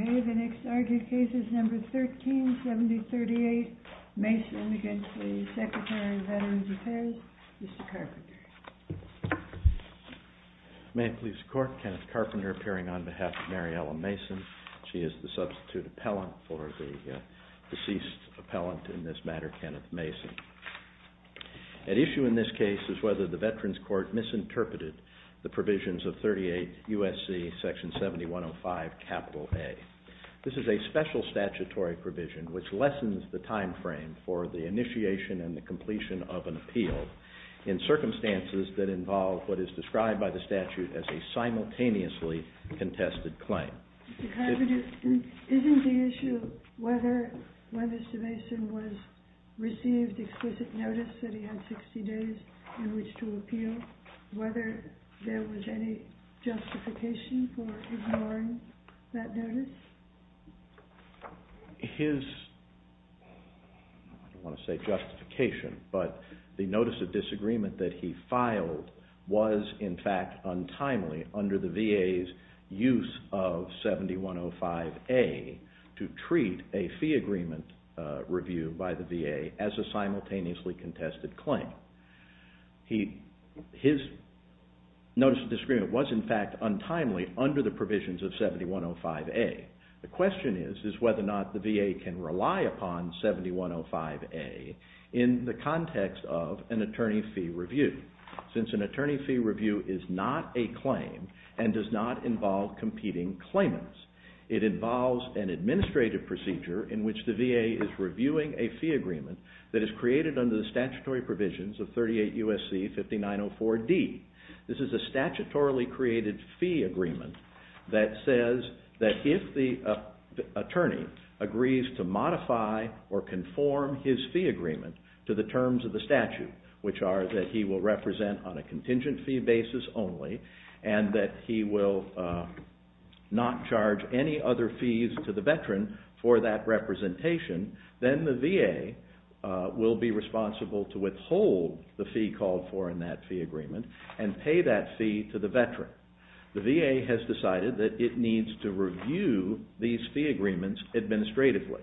Okay, the next argued case is number 137038 Mason against the Secretary of Veterans Affairs, Mr. Carpenter. May it please the Court, Kenneth Carpenter appearing on behalf of Mariela Mason. She is the substitute appellant for the deceased appellant in this matter, Kenneth Mason. At issue in this case is whether the Veterans Court misinterpreted the provisions of 38 USC section 7105 capital A. This is a special statutory provision which lessens the time frame for the initiation and the completion of an appeal in circumstances that involve what is described by the statute as a simultaneously contested claim. Mr. Carpenter, isn't the issue whether Mr. Mason received explicit notice that he had 60 days in which to appeal, whether there was any justification for ignoring that notice? His, I don't want to say justification, but the notice of disagreement that he filed was in fact untimely under the VA's use of 7105A to treat a fee agreement review by the VA as a simultaneously contested claim. His notice of disagreement was in fact untimely under the provisions of 7105A. The question is whether or not the VA can rely upon 7105A in the context of an attorney fee review. Since an attorney fee review is not a claim and does not involve competing claimants, it involves an administrative procedure in which the VA is reviewing a fee agreement that is created under the statutory provisions of 38 U.S.C. 5904D. This is a statutorily created fee agreement that says that if the attorney agrees to modify or conform his fee agreement to the terms of the statute, which are that he will represent on a contingent fee basis only and that he will not charge any other fees to the veteran for that representation, then the VA will be responsible to withhold the fee called for in that fee agreement and pay that fee to the veteran. The VA has decided that it needs to review these fee agreements administratively.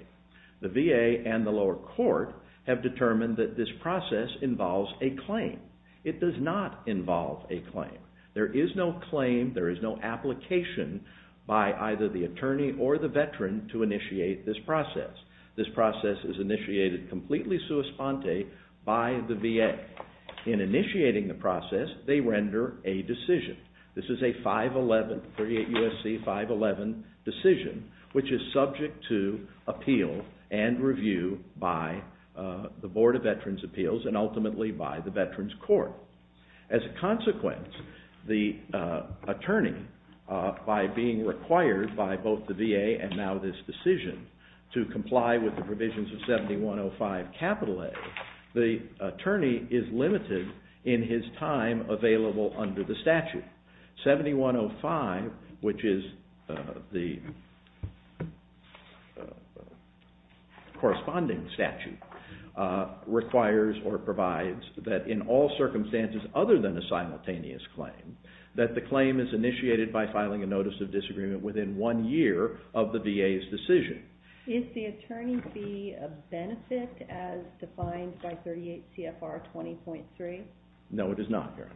The VA and the lower court have determined that this process involves a claim. It does not involve a claim. There is no claim, there is no application by either the attorney or the veteran to initiate this process. This process is initiated completely sua sponte by the VA. In initiating the process, they render a decision. This is a 511, 38 U.S.C. 511 decision, which is subject to appeal and review by the Board of Veterans' Appeals and ultimately by the Veterans' Court. As a consequence, the attorney, by being required by both the VA and now this decision to comply with the provisions of 7105 A, the attorney is limited in his time available under the statute. 7105, which is the corresponding statute, requires or provides that in all circumstances other than a simultaneous claim, that the claim is initiated by filing a notice of disagreement within one year of the VA's decision. Is the attorney fee a benefit as defined by 38 CFR 20.3? No, it is not, Karen.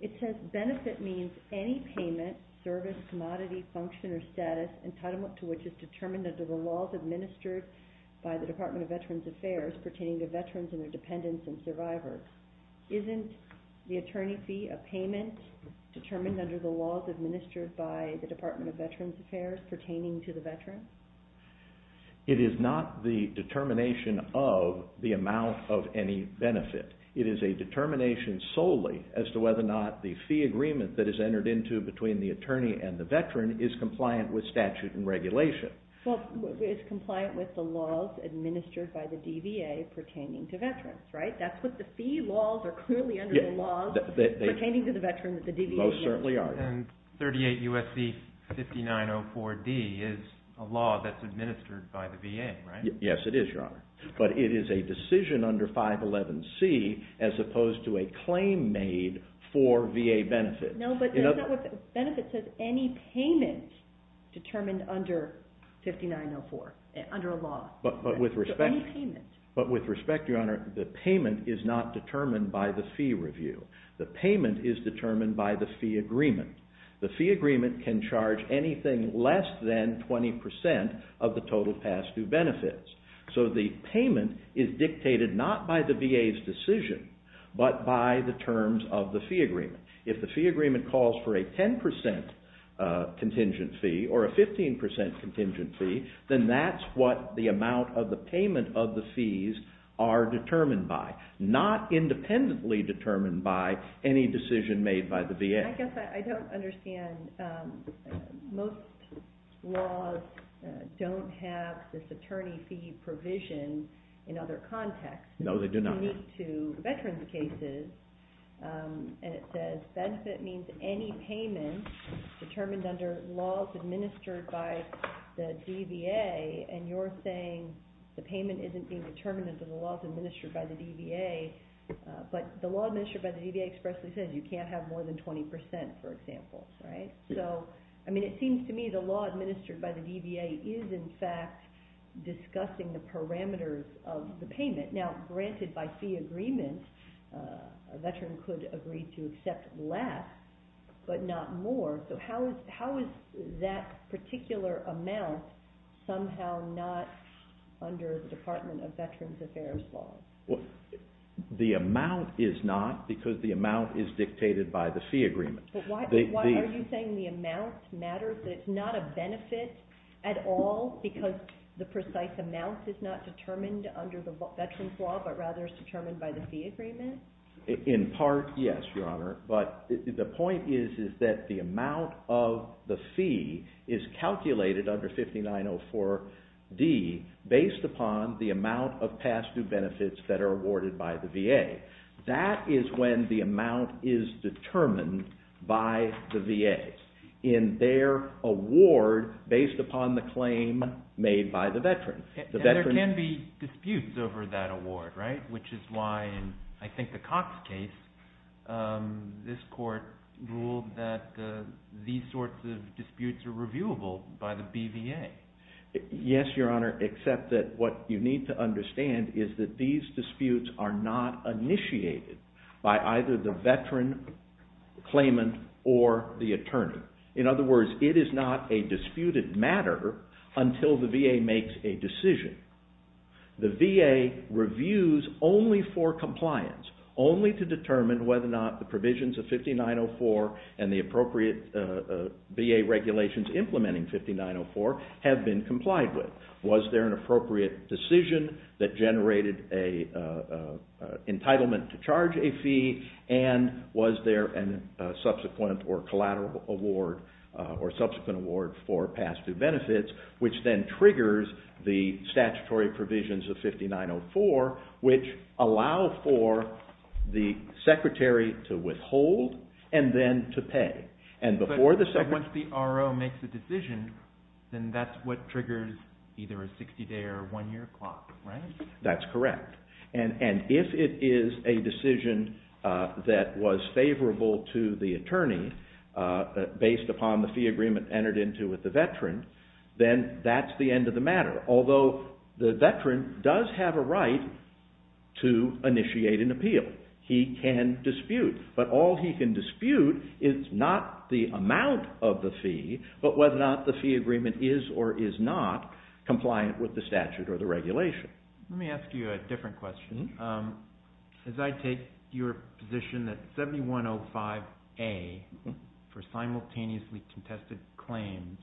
It says benefit means any payment, service, commodity, function, or status entitlement to which is determined under the laws administered by the Department of Veterans Affairs pertaining to veterans and their dependents and survivors. Isn't the attorney fee a payment determined under the laws administered by the Department of Veterans Affairs pertaining to the veteran? It is not the determination of the amount of any benefit. It is a determination solely as to whether or not the fee agreement that is entered into between the attorney and the veteran is compliant with statute and regulation. Well, it's compliant with the laws administered by the DVA pertaining to veterans, right? That's what the fee laws are clearly under the laws pertaining to the veteran. Most certainly are. And 38 U.S.C. 5904D is a law that's administered by the VA, right? Yes, it is, Your Honor. But it is a decision under 511C as opposed to a claim made for VA benefit. No, but that's not what the benefit says. Any payment determined under 5904, under a law. But with respect, Your Honor, the payment is not determined by the fee review. The payment is determined by the fee agreement. The fee agreement can charge anything less than 20% of the total past due benefits. So the payment is dictated not by the VA's decision but by the terms of the fee agreement. If the fee agreement calls for a 10% contingent fee or a 15% contingent fee, then that's what the amount of the payment of the fees are determined by. Not independently determined by any decision made by the VA. I guess I don't understand. Most laws don't have this attorney fee provision in other contexts. No, they do not. It's unique to veterans' cases. And it says benefit means any payment determined under laws administered by the DVA. And you're saying the payment isn't being determined under the laws administered by the DVA. But the law administered by the DVA expressly says you can't have more than 20%, for example, right? So, I mean, it seems to me the law administered by the DVA is, in fact, discussing the parameters of the payment. Now, granted by fee agreement, a veteran could agree to accept less but not more. So how is that particular amount somehow not under the Department of Veterans Affairs law? The amount is not because the amount is dictated by the fee agreement. But why are you saying the amount matters? That it's not a benefit at all because the precise amount is not determined under the veterans' law but rather is determined by the fee agreement? In part, yes, Your Honor. But the point is that the amount of the fee is calculated under 5904D based upon the amount of past due benefits that are awarded by the VA. That is when the amount is determined by the VA. In their award based upon the claim made by the veteran. There can be disputes over that award, right? Which is why in, I think, the Cox case, this court ruled that these sorts of disputes are reviewable by the BVA. Yes, Your Honor, except that what you need to understand is that these disputes are not initiated by either the veteran claimant or the attorney. In other words, it is not a disputed matter until the VA makes a decision. The VA reviews only for compliance. Only to determine whether or not the provisions of 5904 and the appropriate VA regulations implementing 5904 have been complied with. Was there an appropriate decision that generated an entitlement to charge a fee? And was there a subsequent or collateral award or subsequent award for past due benefits, which then triggers the statutory provisions of 5904, which allow for the secretary to withhold and then to pay. But once the RO makes a decision, then that's what triggers either a 60 day or a one year clock, right? That's correct. And if it is a decision that was favorable to the attorney based upon the fee agreement entered into with the veteran, then that's the end of the matter. Although the veteran does have a right to initiate an appeal. He can dispute. But all he can dispute is not the amount of the fee, but whether or not the fee agreement is or is not compliant with the statute or the regulation. Let me ask you a different question. As I take your position that 7105A for simultaneously contested claims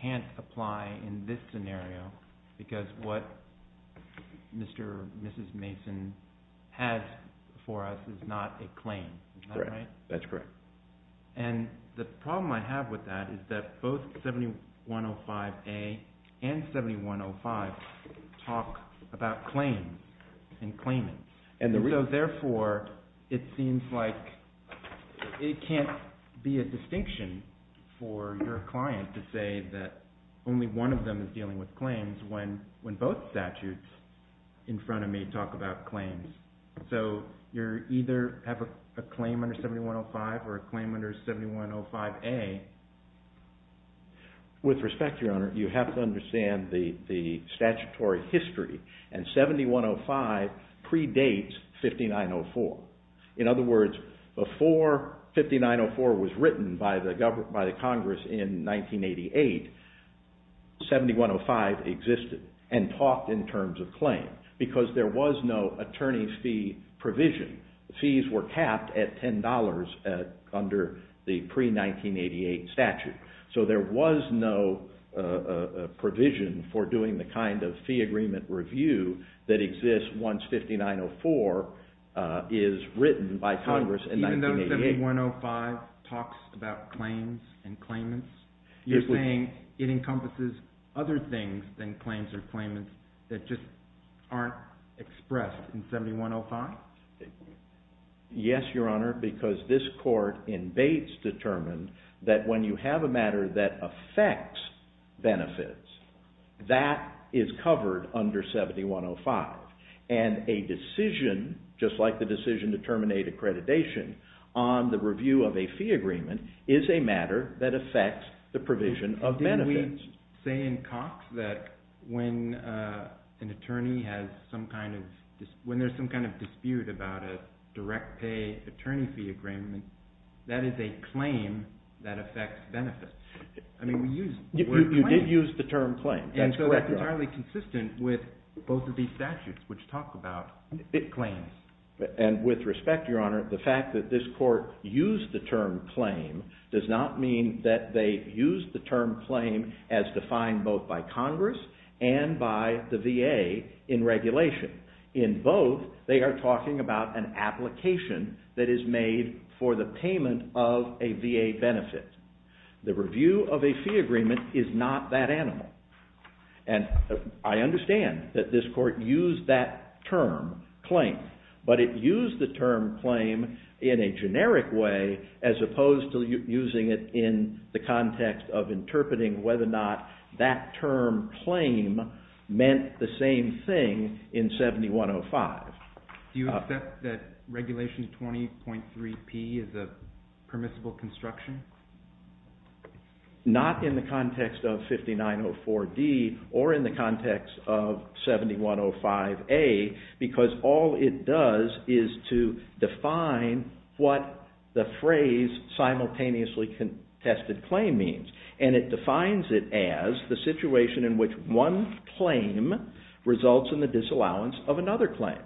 can't apply in this scenario because what Mr. or Mrs. Mason has for us is not a claim. Is that right? That's correct. And the problem I have with that is that both 7105A and 7105 talk about claims and claimants. And so therefore, it seems like it can't be a distinction for your client to say that only one of them is dealing with claims when both statutes in front of me talk about claims. So you either have a claim under 7105 or a claim under 7105A. With respect, Your Honor, you have to understand the statutory history and 7105 predates 5904. In other words, before 5904 was written by the Congress in 1988, 7105 existed and talked in terms of claims. Why? Because there was no attorney's fee provision. Fees were capped at $10 under the pre-1988 statute. So there was no provision for doing the kind of fee agreement review that exists once 5904 is written by Congress in 1988. Even though 7105 talks about claims and claimants, you're saying it encompasses other things than claims or claimants that just aren't expressed in 7105? Yes, Your Honor, because this court in Bates determined that when you have a matter that affects benefits, that is covered under 7105. And a decision, just like the decision to terminate accreditation on the review of a fee agreement, is a matter that affects the provision of benefits. Didn't we say in Cox that when there's some kind of dispute about a direct pay attorney fee agreement, that is a claim that affects benefits? You did use the term claim. And so that's entirely consistent with both of these statutes, which talk about claims. And with respect, Your Honor, the fact that this court used the term claim does not mean that they used the term claim as defined both by Congress and by the VA in regulation. In both, they are talking about an application that is made for the payment of a VA benefit. The review of a fee agreement is not that animal. And I understand that this court used that term claim, but it used the term claim in a generic way as opposed to using it in the context of interpreting whether or not that term claim meant the same thing in 7105. Do you accept that regulation 20.3p is a permissible construction? Not in the context of 5904d or in the context of 7105a, because all it does is to define what the phrase simultaneously contested claim means. And it defines it as the situation in which one claim results in the disallowance of another claim.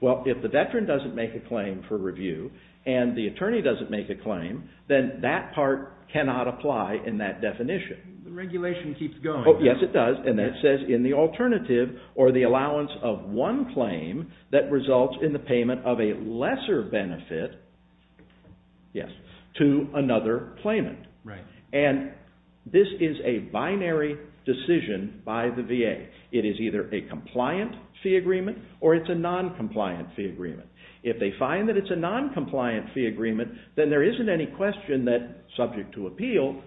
Well, if the veteran doesn't make a claim for review and the attorney doesn't make a claim, then that part cannot apply in that definition. The regulation keeps going. Yes, it does. And that says in the alternative or the allowance of one claim that results in the payment of a lesser benefit to another claimant. And this is a binary decision by the VA. It is either a compliant fee agreement or it's a non-compliant fee agreement. If they find that it's a non-compliant fee agreement, then there isn't any question that subject to appeal,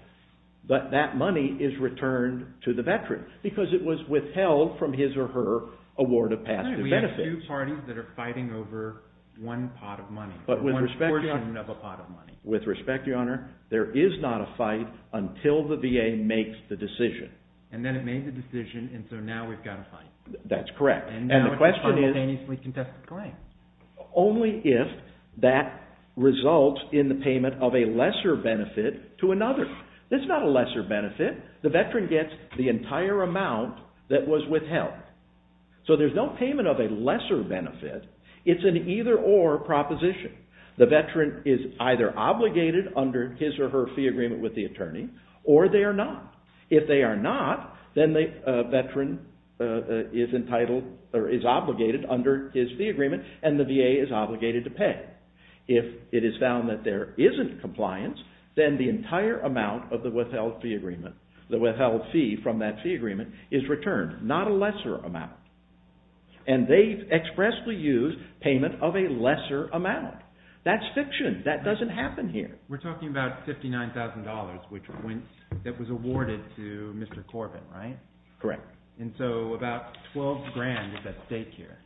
but that money is returned to the veteran because it was withheld from his or her award of past benefit. We have two parties that are fighting over one pot of money, one portion of a pot of money. With respect, Your Honor, there is not a fight until the VA makes the decision. And then it made the decision, and so now we've got a fight. That's correct. And now it's a simultaneously contested claim. Only if that results in the payment of a lesser benefit to another. It's not a lesser benefit. The veteran gets the entire amount that was withheld. So there's no payment of a lesser benefit. It's an either-or proposition. The veteran is either obligated under his or her fee agreement with the attorney or they are not. If they are not, then the veteran is obligated under his fee agreement and the VA is obligated to pay. If it is found that there isn't compliance, then the entire amount of the withheld fee from that fee agreement is returned, not a lesser amount. And they expressly use payment of a lesser amount. That's fiction. That doesn't happen here. We're talking about $59,000 that was awarded to Mr. Corbin, right? Correct. And so about $12,000 is at stake here.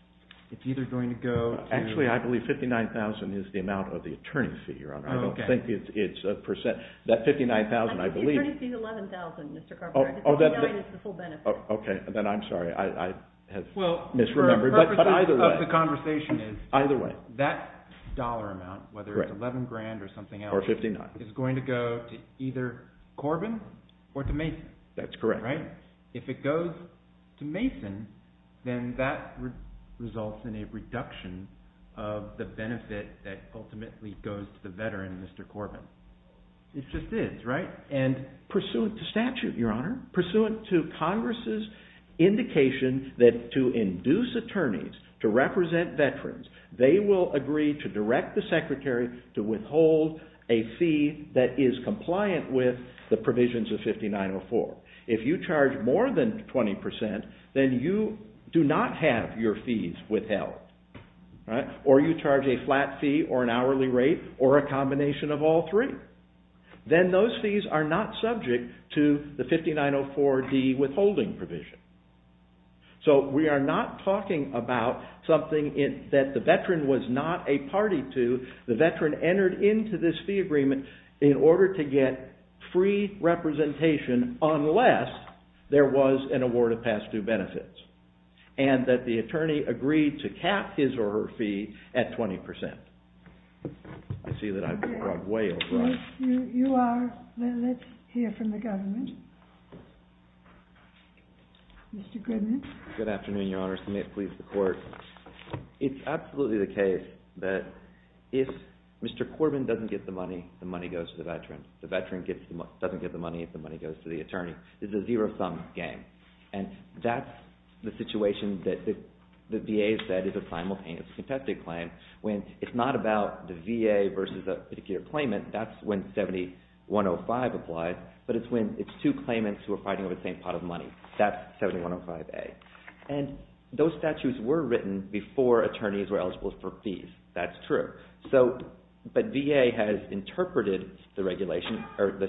It's either going to go to... Actually, I believe $59,000 is the amount of the attorney's fee, Your Honor. I don't think it's a percent. That $59,000, I believe... The attorney's fee is $11,000, Mr. Corbin. $59,000 is the full benefit. Okay, then I'm sorry. I have misremembered. The purpose of the conversation is that dollar amount, whether it's $11,000 or something else, is going to go to either Corbin or to Mason. That's correct. If it goes to Mason, then that results in a reduction of the benefit that ultimately goes to the veteran, Mr. Corbin. It just is, right? And pursuant to statute, Your Honor, pursuant to Congress' indication that to induce attorneys to represent veterans, they will agree to direct the secretary to withhold a fee that is compliant with the provisions of 5904. If you charge more than 20%, then you do not have your fees withheld. Or you charge a flat fee or an hourly rate or a combination of all three. Then those fees are not subject to the 5904D withholding provision. So we are not talking about something that the veteran was not a party to. The veteran entered into this fee agreement in order to get free representation unless there was an award of past due benefits and that the attorney agreed to cap his or her fee at 20%. I see that I've gone way over. Yes, you are. Let's hear from the government. Mr. Grimmett. Good afternoon, Your Honor. May it please the Court. It's absolutely the case that if Mr. Corbin doesn't get the money, the money goes to the veteran. The veteran doesn't get the money if the money goes to the attorney. It's a zero-sum game. That's the situation that the VA has said is a simultaneous contested claim. It's not about the VA versus a particular claimant. That's when 7105 applies. But it's two claimants who are fighting over the same pot of money. That's 7105A. Those statutes were written before attorneys were eligible for fees. That's true. But VA has interpreted the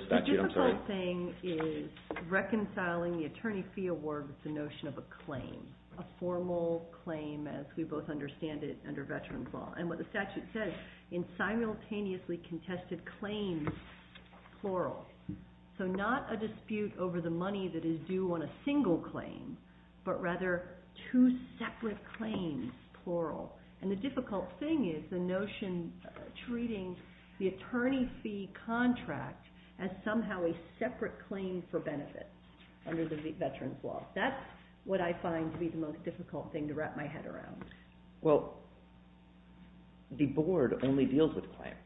statute. The difficult thing is reconciling the attorney fee award with the notion of a claim, a formal claim as we both understand it under veterans' law. And what the statute says, in simultaneously contested claims, plural. So not a dispute over the money that is due on a single claim, but rather two separate claims, plural. And the difficult thing is the notion treating the attorney fee contract as somehow a separate claim for benefits under the veterans' law. That's what I find to be the most difficult thing to wrap my head around. Well, the board only deals with claims.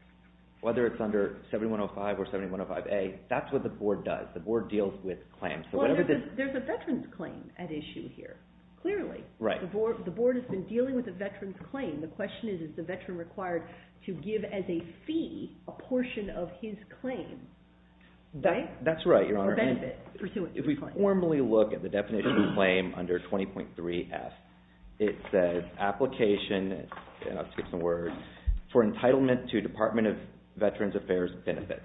Whether it's under 7105 or 7105A, that's what the board does. The board deals with claims. There's a veterans' claim at issue here, clearly. Right. The board has been dealing with a veterans' claim. The question is, is the veteran required to give as a fee a portion of his claim? That's right, Your Honor. If we formally look at the definition of a claim under 20.3F, it says application, I'll skip some words, for entitlement to Department of Veterans Affairs benefits.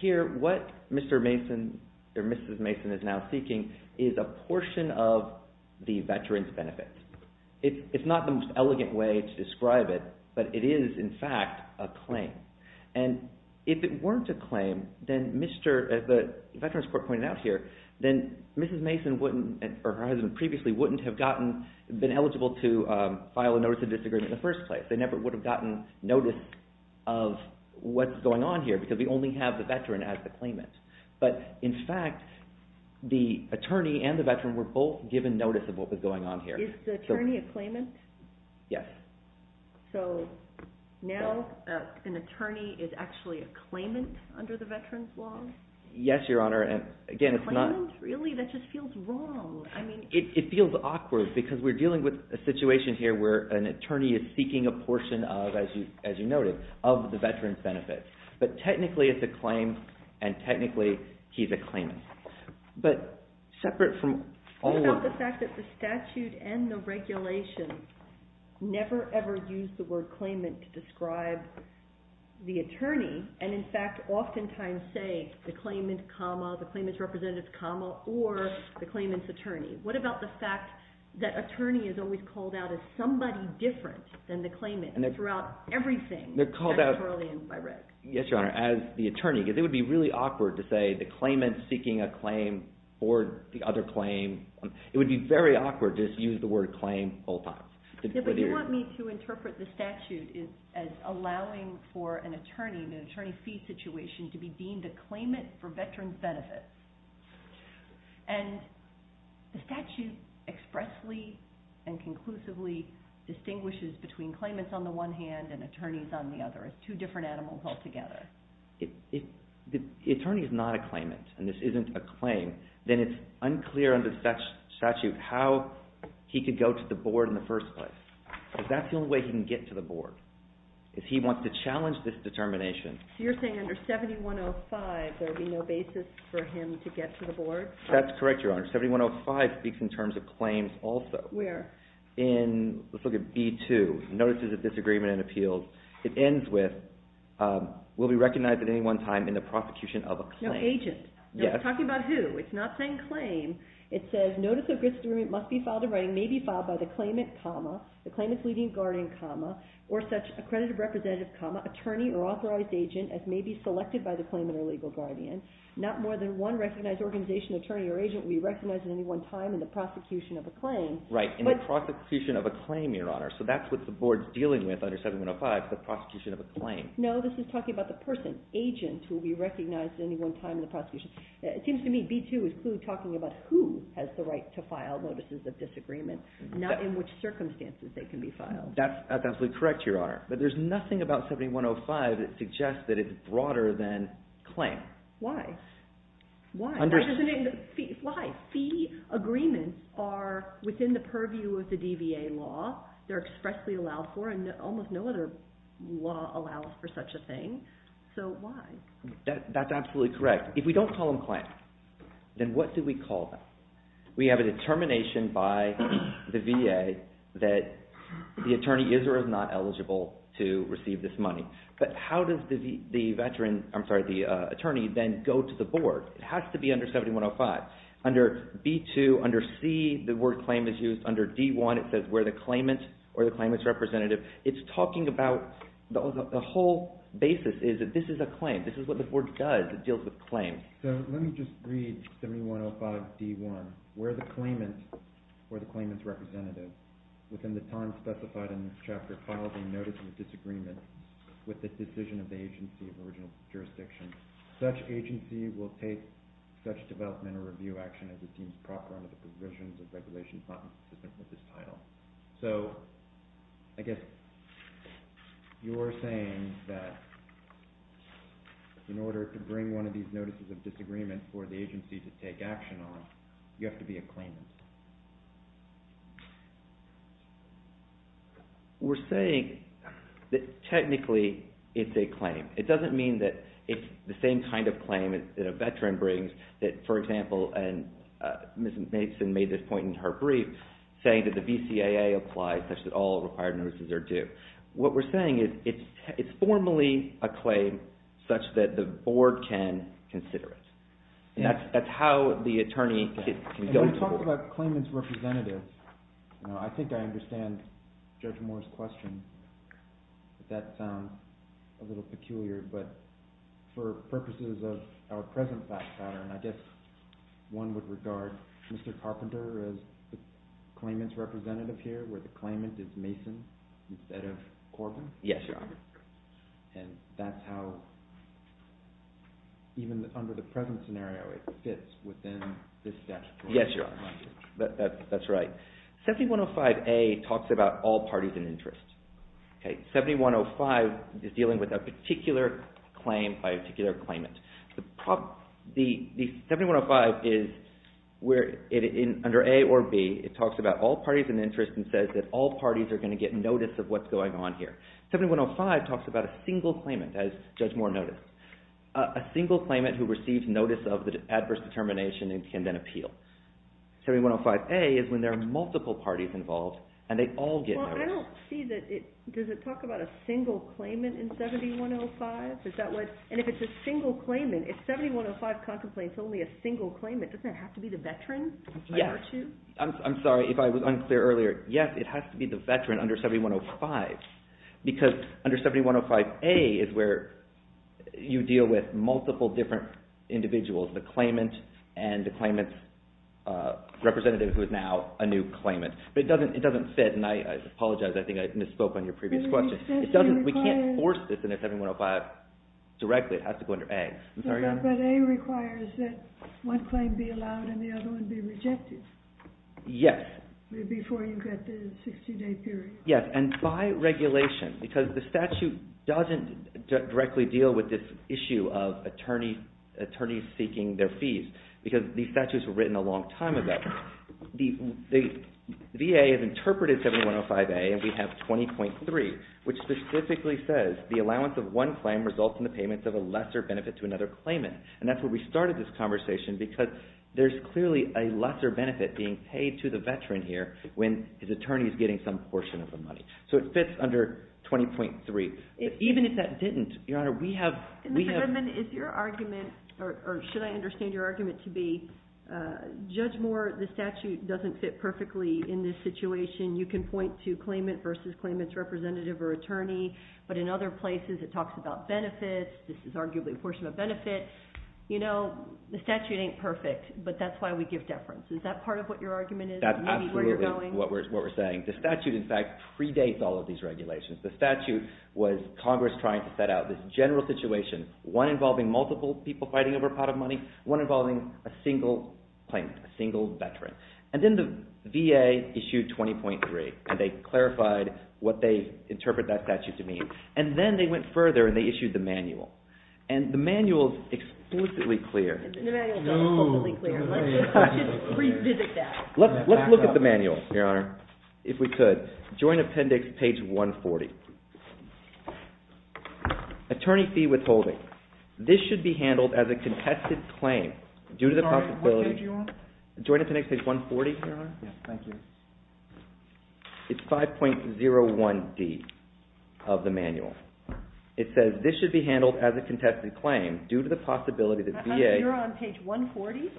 Here, what Mr. Mason or Mrs. Mason is now seeking is a portion of the veterans' benefits. It's not the most elegant way to describe it, but it is, in fact, a claim. And if it weren't a claim, as the veterans' court pointed out here, then Mrs. Mason or her husband previously wouldn't have been eligible to file a notice of disagreement in the first place. They never would have gotten notice of what's going on here because we only have the veteran as the claimant. But, in fact, the attorney and the veteran were both given notice of what was going on here. Is the attorney a claimant? Yes. So now an attorney is actually a claimant under the veterans' law? Yes, Your Honor. A claimant? Really? That just feels wrong. It feels awkward because we're dealing with a situation here where an attorney is seeking a portion of, as you noted, of the veterans' benefits. But, technically, it's a claim and, technically, he's a claimant. But, separate from all... What about the fact that the statute and the regulation never, ever use the word claimant to describe the attorney and, in fact, oftentimes say the claimant comma, the claimant's representative comma, or the claimant's attorney? What about the fact that attorney is always called out as somebody different than the claimant throughout everything that's brought in by Rick? Yes, Your Honor. As the attorney, because it would be really awkward to say the claimant's seeking a claim for the other claim. It would be very awkward to just use the word claim all the time. Yeah, but you want me to interpret the statute as allowing for an attorney, in an attorney fee situation, to be deemed a claimant for veterans' benefits. And the statute expressly and conclusively distinguishes between claimants on the one hand and attorneys on the other. It's two different animals altogether. If the attorney is not a claimant and this isn't a claim, then it's unclear under the statute how he could go to the board in the first place. Because that's the only way he can get to the board, is he wants to challenge this determination. So you're saying under 7105 there would be no basis for him to get to the board? That's correct, Your Honor. 7105 speaks in terms of claims also. Where? In, let's look at B2, Notices of Disagreement and Appeals. It ends with, will be recognized at any one time in the prosecution of a claim. No agent. Yes. Talking about who? It's not saying claim. It says, Notice of Disagreement must be filed in writing, may be filed by the claimant, the claimant's leading guardian, or such accredited representative, attorney, or authorized agent as may be selected by the claimant or legal guardian. Not more than one recognized organization, attorney, or agent will be recognized at any one time in the prosecution of a claim. Right, in the prosecution of a claim, Your Honor. So that's what the board's dealing with under 7105, the prosecution of a claim. No, this is talking about the person, agent, who will be recognized at any one time in the prosecution. It seems to me B2 is clearly talking about who has the right to file Notices of Disagreement, not in which circumstances they can be filed. That's absolutely correct, Your Honor. But there's nothing about 7105 that suggests that it's broader than claim. Why? Why? Why? Fee agreements are within the purview of the DVA law. They're expressly allowed for, and almost no other law allows for such a thing. So, why? That's absolutely correct. If we don't call them claims, then what do we call them? We have a determination by the VA that the attorney is or is not eligible to receive this money. But how does the attorney then go to the board? It has to be under 7105. Under B2, under C, the word claim is used. Under D1, it says where the claimant or the claimant's representative. It's talking about the whole basis is that this is a claim. This is what the board does. It deals with claims. So, let me just read 7105 D1, where the claimant or the claimant's representative, within the time specified in this chapter, filed a notice of disagreement with the decision of the agency of original jurisdiction. Such agency will take such development or review action as it seems proper under the provisions of regulations not consistent with this title. So, I guess you're saying that in order to bring one of these notices of disagreement for the agency to take action on, you have to be a claimant. We're saying that technically it's a claim. It doesn't mean that it's the same kind of claim that a veteran brings that, for example, and Ms. Mason made this point in her brief, saying that the VCAA applies such that all required notices are due. What we're saying is it's formally a claim such that the board can consider it. That's how the attorney can go to the board. When you talk about claimant's representative, I think I understand Judge Moore's question. That sounds a little peculiar, but for purposes of our present thought pattern, I guess one would regard Mr. Carpenter as the claimant's representative here, where the claimant is Mason instead of Corbin. Yes, Your Honor. And that's how, even under the present scenario, it fits within this statute. Yes, Your Honor. That's right. 7105A talks about all parties in interest. 7105 is dealing with a particular claim by a particular claimant. 7105 is where, under A or B, it talks about all parties in interest and says that all parties are going to get notice of what's going on here. 7105 talks about a single claimant, as Judge Moore noted. A single claimant who receives notice of the adverse determination can then appeal. 7105A is when there are multiple parties involved and they all get notice. Well, I don't see that it, does it talk about a single claimant in 7105? And if it's a single claimant, if 7105 contemplates only a single claimant, doesn't it have to be the veteran? Yes. I'm sorry if I was unclear earlier. Yes, it has to be the veteran under 7105, because under 7105A is where you deal with multiple different individuals, the claimant and the claimant's representative who is now a new claimant. But it doesn't fit, and I apologize, I think I misspoke on your previous question. We can't force this into 7105 directly. It has to go under A. But A requires that one claim be allowed and the other one be rejected. Yes. Before you get the 60-day period. Yes, and by regulation, because the statute doesn't directly deal with this issue of attorneys seeking their fees, because these statutes were written a long time ago. The VA has interpreted 7105A, and we have 20.3, which specifically says the allowance of one claim results in the payment of a lesser benefit to another claimant. And that's where we started this conversation, because there's clearly a lesser benefit being paid to the veteran here when his attorney is getting some portion of the money. So it fits under 20.3. Even if that didn't, Your Honor, we have... Mr. Goodman, is your argument, or should I understand your argument to be Judge Moore, the statute doesn't fit perfectly in this situation. You can point to claimant versus claimant's representative or attorney, but in other places it talks about benefits. This is arguably a portion of a benefit. You know, the statute ain't perfect, but that's why we give deference. Is that part of what your argument is? That's absolutely what we're saying. The statute, in fact, predates all of these regulations. The statute was Congress trying to set out this general situation, one involving multiple people fighting over a pot of money, one involving a single claimant, a single veteran. And then the VA issued 20.3, and they clarified what they interpret that statute to mean. And then they went further and they issued the manual. And the manual is explicitly clear. The manual is totally clear. Let's just revisit that. Let's look at the manual, Your Honor, if we could. Joint Appendix, page 140. Attorney fee withholding. This should be handled as a contested claim due to the possibility. Sorry, what page are you on? Joint Appendix, page 140, Your Honor. Yes, thank you. It's 5.01D of the manual. It says this should be handled as a contested claim due to the possibility that VA. You're on page 140?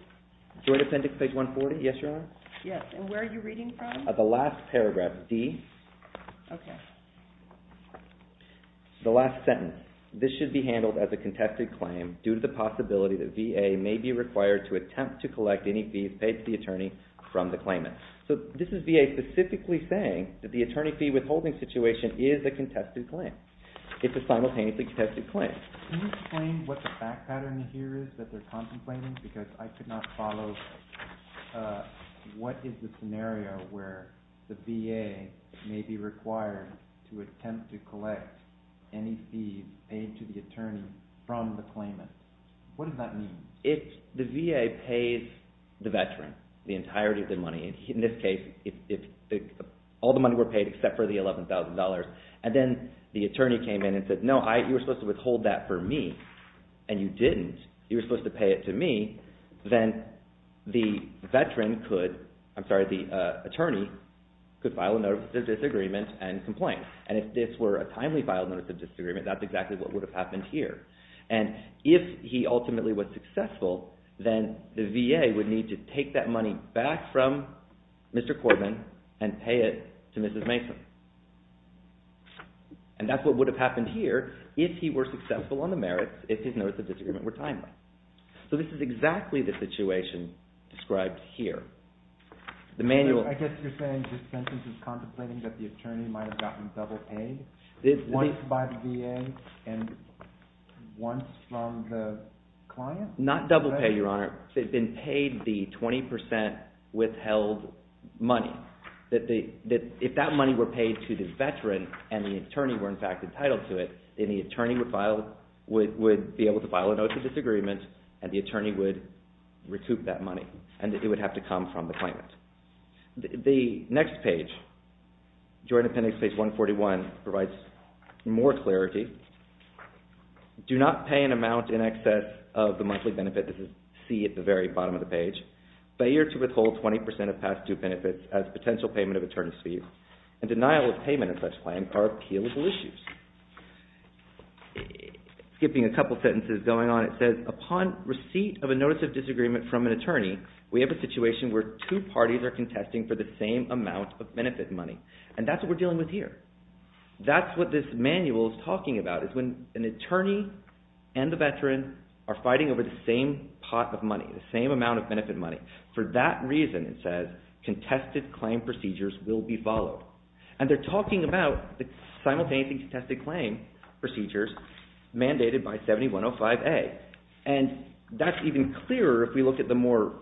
Joint Appendix, page 140, yes, Your Honor. Yes, and where are you reading from? The last paragraph, D. Okay. The last sentence. This should be handled as a contested claim due to the possibility that VA. may be required to attempt to collect any fees paid to the attorney from the claimant. So this is VA specifically saying that the attorney fee withholding situation is a contested claim. It's a simultaneously contested claim. Can you explain what the fact pattern here is that they're contemplating? Because I could not follow. What is the scenario where the VA may be required to attempt to collect any fees paid to the attorney from the claimant? What does that mean? The VA pays the veteran the entirety of the money. In this case, all the money were paid except for the $11,000. And then the attorney came in and said, no, you were supposed to withhold that for me, and you didn't. You were supposed to pay it to me. Then the attorney could file a Notice of Disagreement and complain. And if this were a timely filed Notice of Disagreement, that's exactly what would have happened here. And if he ultimately was successful, then the VA would need to take that money back from Mr. Cordman and pay it to Mrs. Mason. And that's what would have happened here if he were successful on the merits, if his Notice of Disagreement were timely. So this is exactly the situation described here. I guess you're saying this sentence is contemplating that the attorney might have gotten double paid? Once by the VA and once from the client? Not double pay, Your Honor. They've been paid the 20% withheld money. If that money were paid to the veteran and the attorney were, in fact, entitled to it, then the attorney would be able to file a Notice of Disagreement and the attorney would recoup that money. And it would have to come from the client. The next page, Joint Appendix, page 141, provides more clarity. Do not pay an amount in excess of the monthly benefit. This is C at the very bottom of the page. Failure to withhold 20% of past due benefits as potential payment of attorney's fees and denial of payment of such claims are appealable issues. Skipping a couple sentences going on, it says, Upon receipt of a Notice of Disagreement from an attorney, we have a situation where two parties are contesting for the same amount of benefit money. And that's what we're dealing with here. That's what this manual is talking about, is when an attorney and the veteran are fighting over the same pot of money, the same amount of benefit money. For that reason, it says, contested claim procedures will be followed. And they're talking about simultaneously contested claim procedures mandated by 7105A. And that's even clearer if we look at the more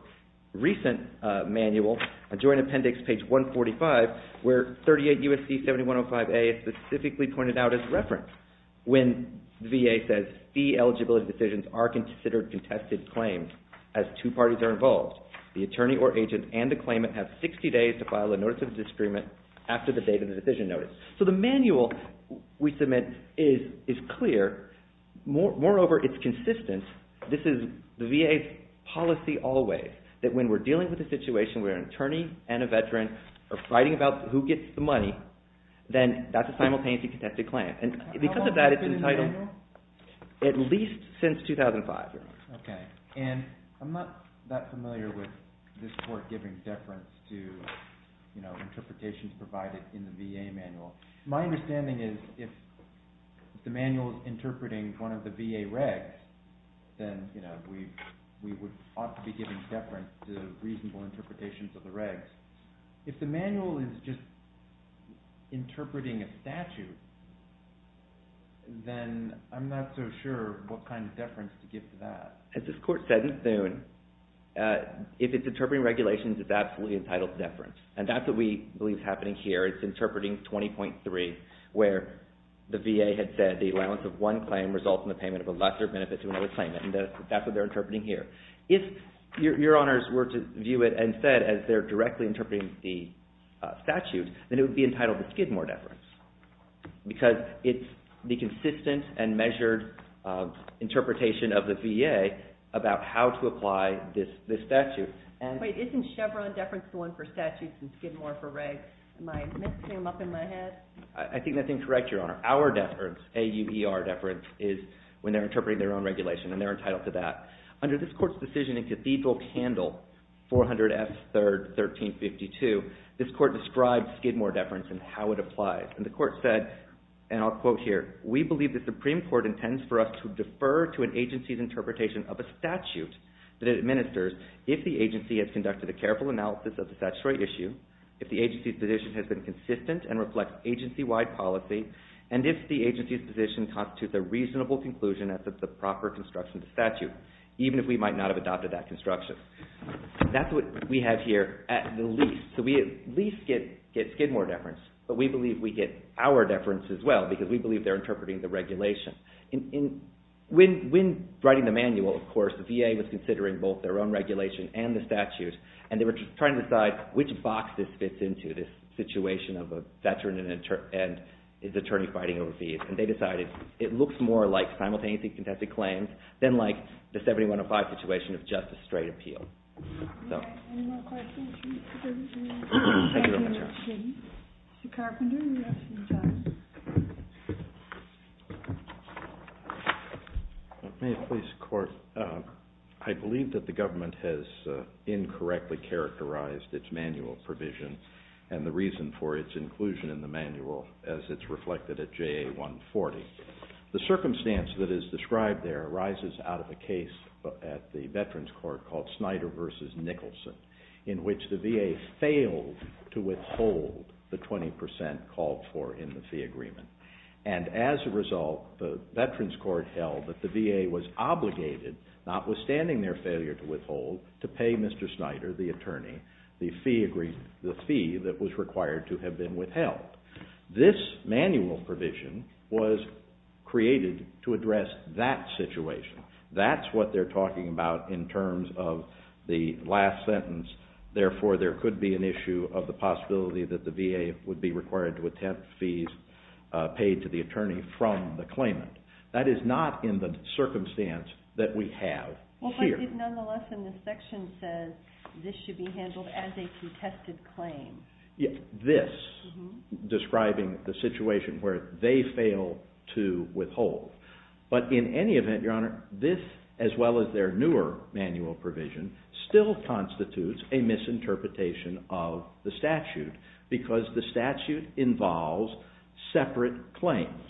recent manual, Joint Appendix, page 145, where 38 U.S.C. 7105A is specifically pointed out as referenced. When the VA says fee eligibility decisions are considered contested claims as two parties are involved, the attorney or agent and the claimant have 60 days to file a Notice of Disagreement after the date of the decision notice. So the manual we submit is clear. Moreover, it's consistent. This is the VA's policy always, that when we're dealing with a situation where an attorney and a veteran are fighting about who gets the money, then that's a simultaneously contested claim. And because of that, it's entitled at least since 2005. Okay. And I'm not that familiar with this Court giving deference to interpretations provided in the VA manual. My understanding is if the manual is interpreting one of the VA regs, then we ought to be giving deference to reasonable interpretations of the regs. If the manual is just interpreting a statute, then I'm not so sure what kind of deference to give to that. As this Court said in Thune, if it's interpreting regulations, it's absolutely entitled to deference. And that's what we believe is happening here. It's interpreting 20.3, where the VA had said the allowance of one claim results in the payment of a lesser benefit to another claimant. And that's what they're interpreting here. If Your Honors were to view it instead as they're directly interpreting the statute, then it would be entitled to Skidmore deference, because it's the consistent and measured interpretation of the VA about how to apply this statute. Wait, isn't Chevron deference the one for statutes and Skidmore for regs? Am I mixing them up in my head? I think that's incorrect, Your Honor. Our deference, A-U-E-R deference, is when they're interpreting their own regulation, and they're entitled to that. Under this Court's decision in Cathedral Candle, 400 F. 3rd, 1352, this Court described Skidmore deference and how it applies. And the Court said, and I'll quote here, we believe the Supreme Court intends for us to defer to an agency's interpretation of a statute that it administers if the agency has conducted a careful analysis of the statutory issue, if the agency's position has been consistent and reflects agency-wide policy, and if the agency's position constitutes a reasonable conclusion as to the proper construction of the statute, even if we might not have adopted that construction. That's what we have here at the least. So we at least get Skidmore deference, but we believe we get our deference as well, because we believe they're interpreting the regulation. When writing the manual, of course, the VA was considering both their own regulation and the statute, and they were trying to decide which box this fits into, this situation of a veteran and his attorney fighting overseas. And they decided it looks more like simultaneously contested claims than like the 7105 situation of just a straight appeal. Any more questions? Mr. Carpenter, you have some time. May it please the Court? I believe that the government has incorrectly characterized its manual provision and the reason for its inclusion in the manual as it's reflected at JA 140. The circumstance that is described there arises out of a case at the Veterans Court called Snyder v. Nicholson, in which the VA failed to withhold the 20 percent called for in the fee agreement. And as a result, the Veterans Court held that the VA was obligated, notwithstanding their failure to withhold, to pay Mr. Snyder, the attorney, the fee that was required to have been withheld. This manual provision was created to address that situation. That's what they're talking about in terms of the last sentence, therefore there could be an issue of the possibility that the VA would be required to attempt fees paid to the attorney from the claimant. That is not in the circumstance that we have here. But it nonetheless, in this section, says this should be handled as a contested claim. This, describing the situation where they fail to withhold. But in any event, Your Honor, this, as well as their newer manual provision, still constitutes a misinterpretation of the statute because the statute involves separate claims.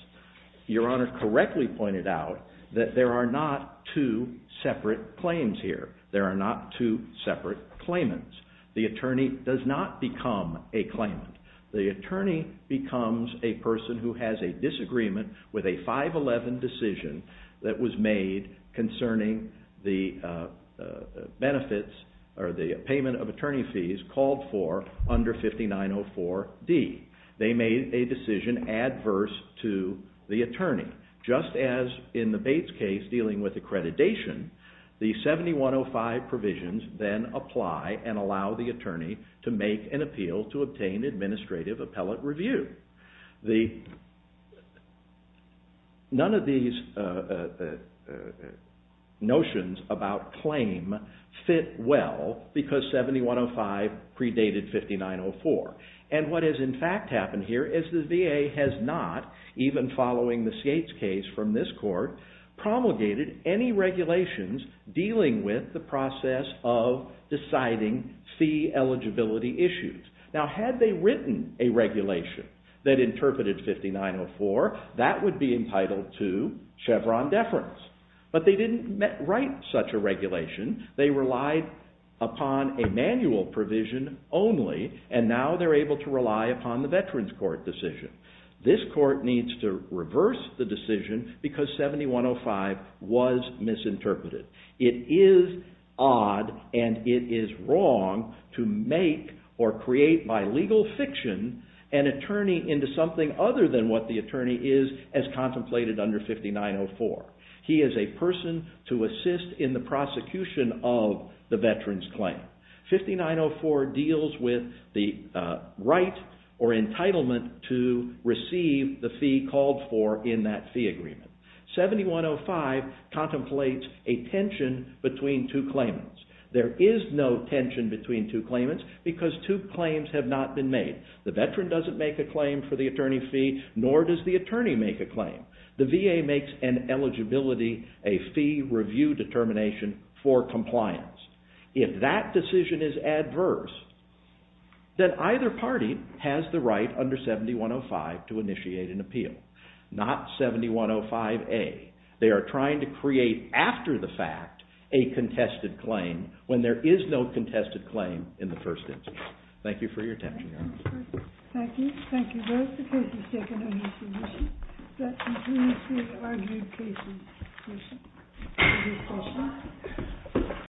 Your Honor correctly pointed out that there are not two separate claims here. There are not two separate claimants. The attorney does not become a claimant. The attorney becomes a person who has a disagreement with a 511 decision that was made concerning the benefits or the payment of attorney fees called for under 5904D. They made a decision adverse to the attorney. Just as in the Bates case dealing with accreditation, the 7105 provisions then apply and allow the attorney to make an appeal to obtain administrative appellate review. None of these notions about claim fit well because 7105 predated 5904. And what has in fact happened here is the VA has not, even following the Bates case from this court, promulgated any regulations dealing with the process of deciding fee eligibility issues. Now had they written a regulation that interpreted 5904, that would be entitled to Chevron deference. But they didn't write such a regulation. They relied upon a manual provision only and now they're able to rely upon the Veterans Court decision. This court needs to reverse the decision because 7105 was misinterpreted. It is odd and it is wrong to make or create by legal fiction an attorney into something other than what the attorney is as contemplated under 5904. He is a person to assist in the prosecution of the veteran's claim. 5904 deals with the right or entitlement to receive the fee called for in that fee agreement. 7105 contemplates a tension between two claimants. There is no tension between two claimants because two claims have not been made. The veteran doesn't make a claim for the attorney fee, nor does the attorney make a claim. The VA makes an eligibility, a fee review determination for compliance. If that decision is adverse, then either party has the right under 7105 to initiate an appeal. Not 7105A. They are trying to create after the fact a contested claim when there is no contested claim in the first instance. Thank you for your attention. Thank you. Thank you both. The case is taken under submission. That concludes the argued cases. Thank you for listening.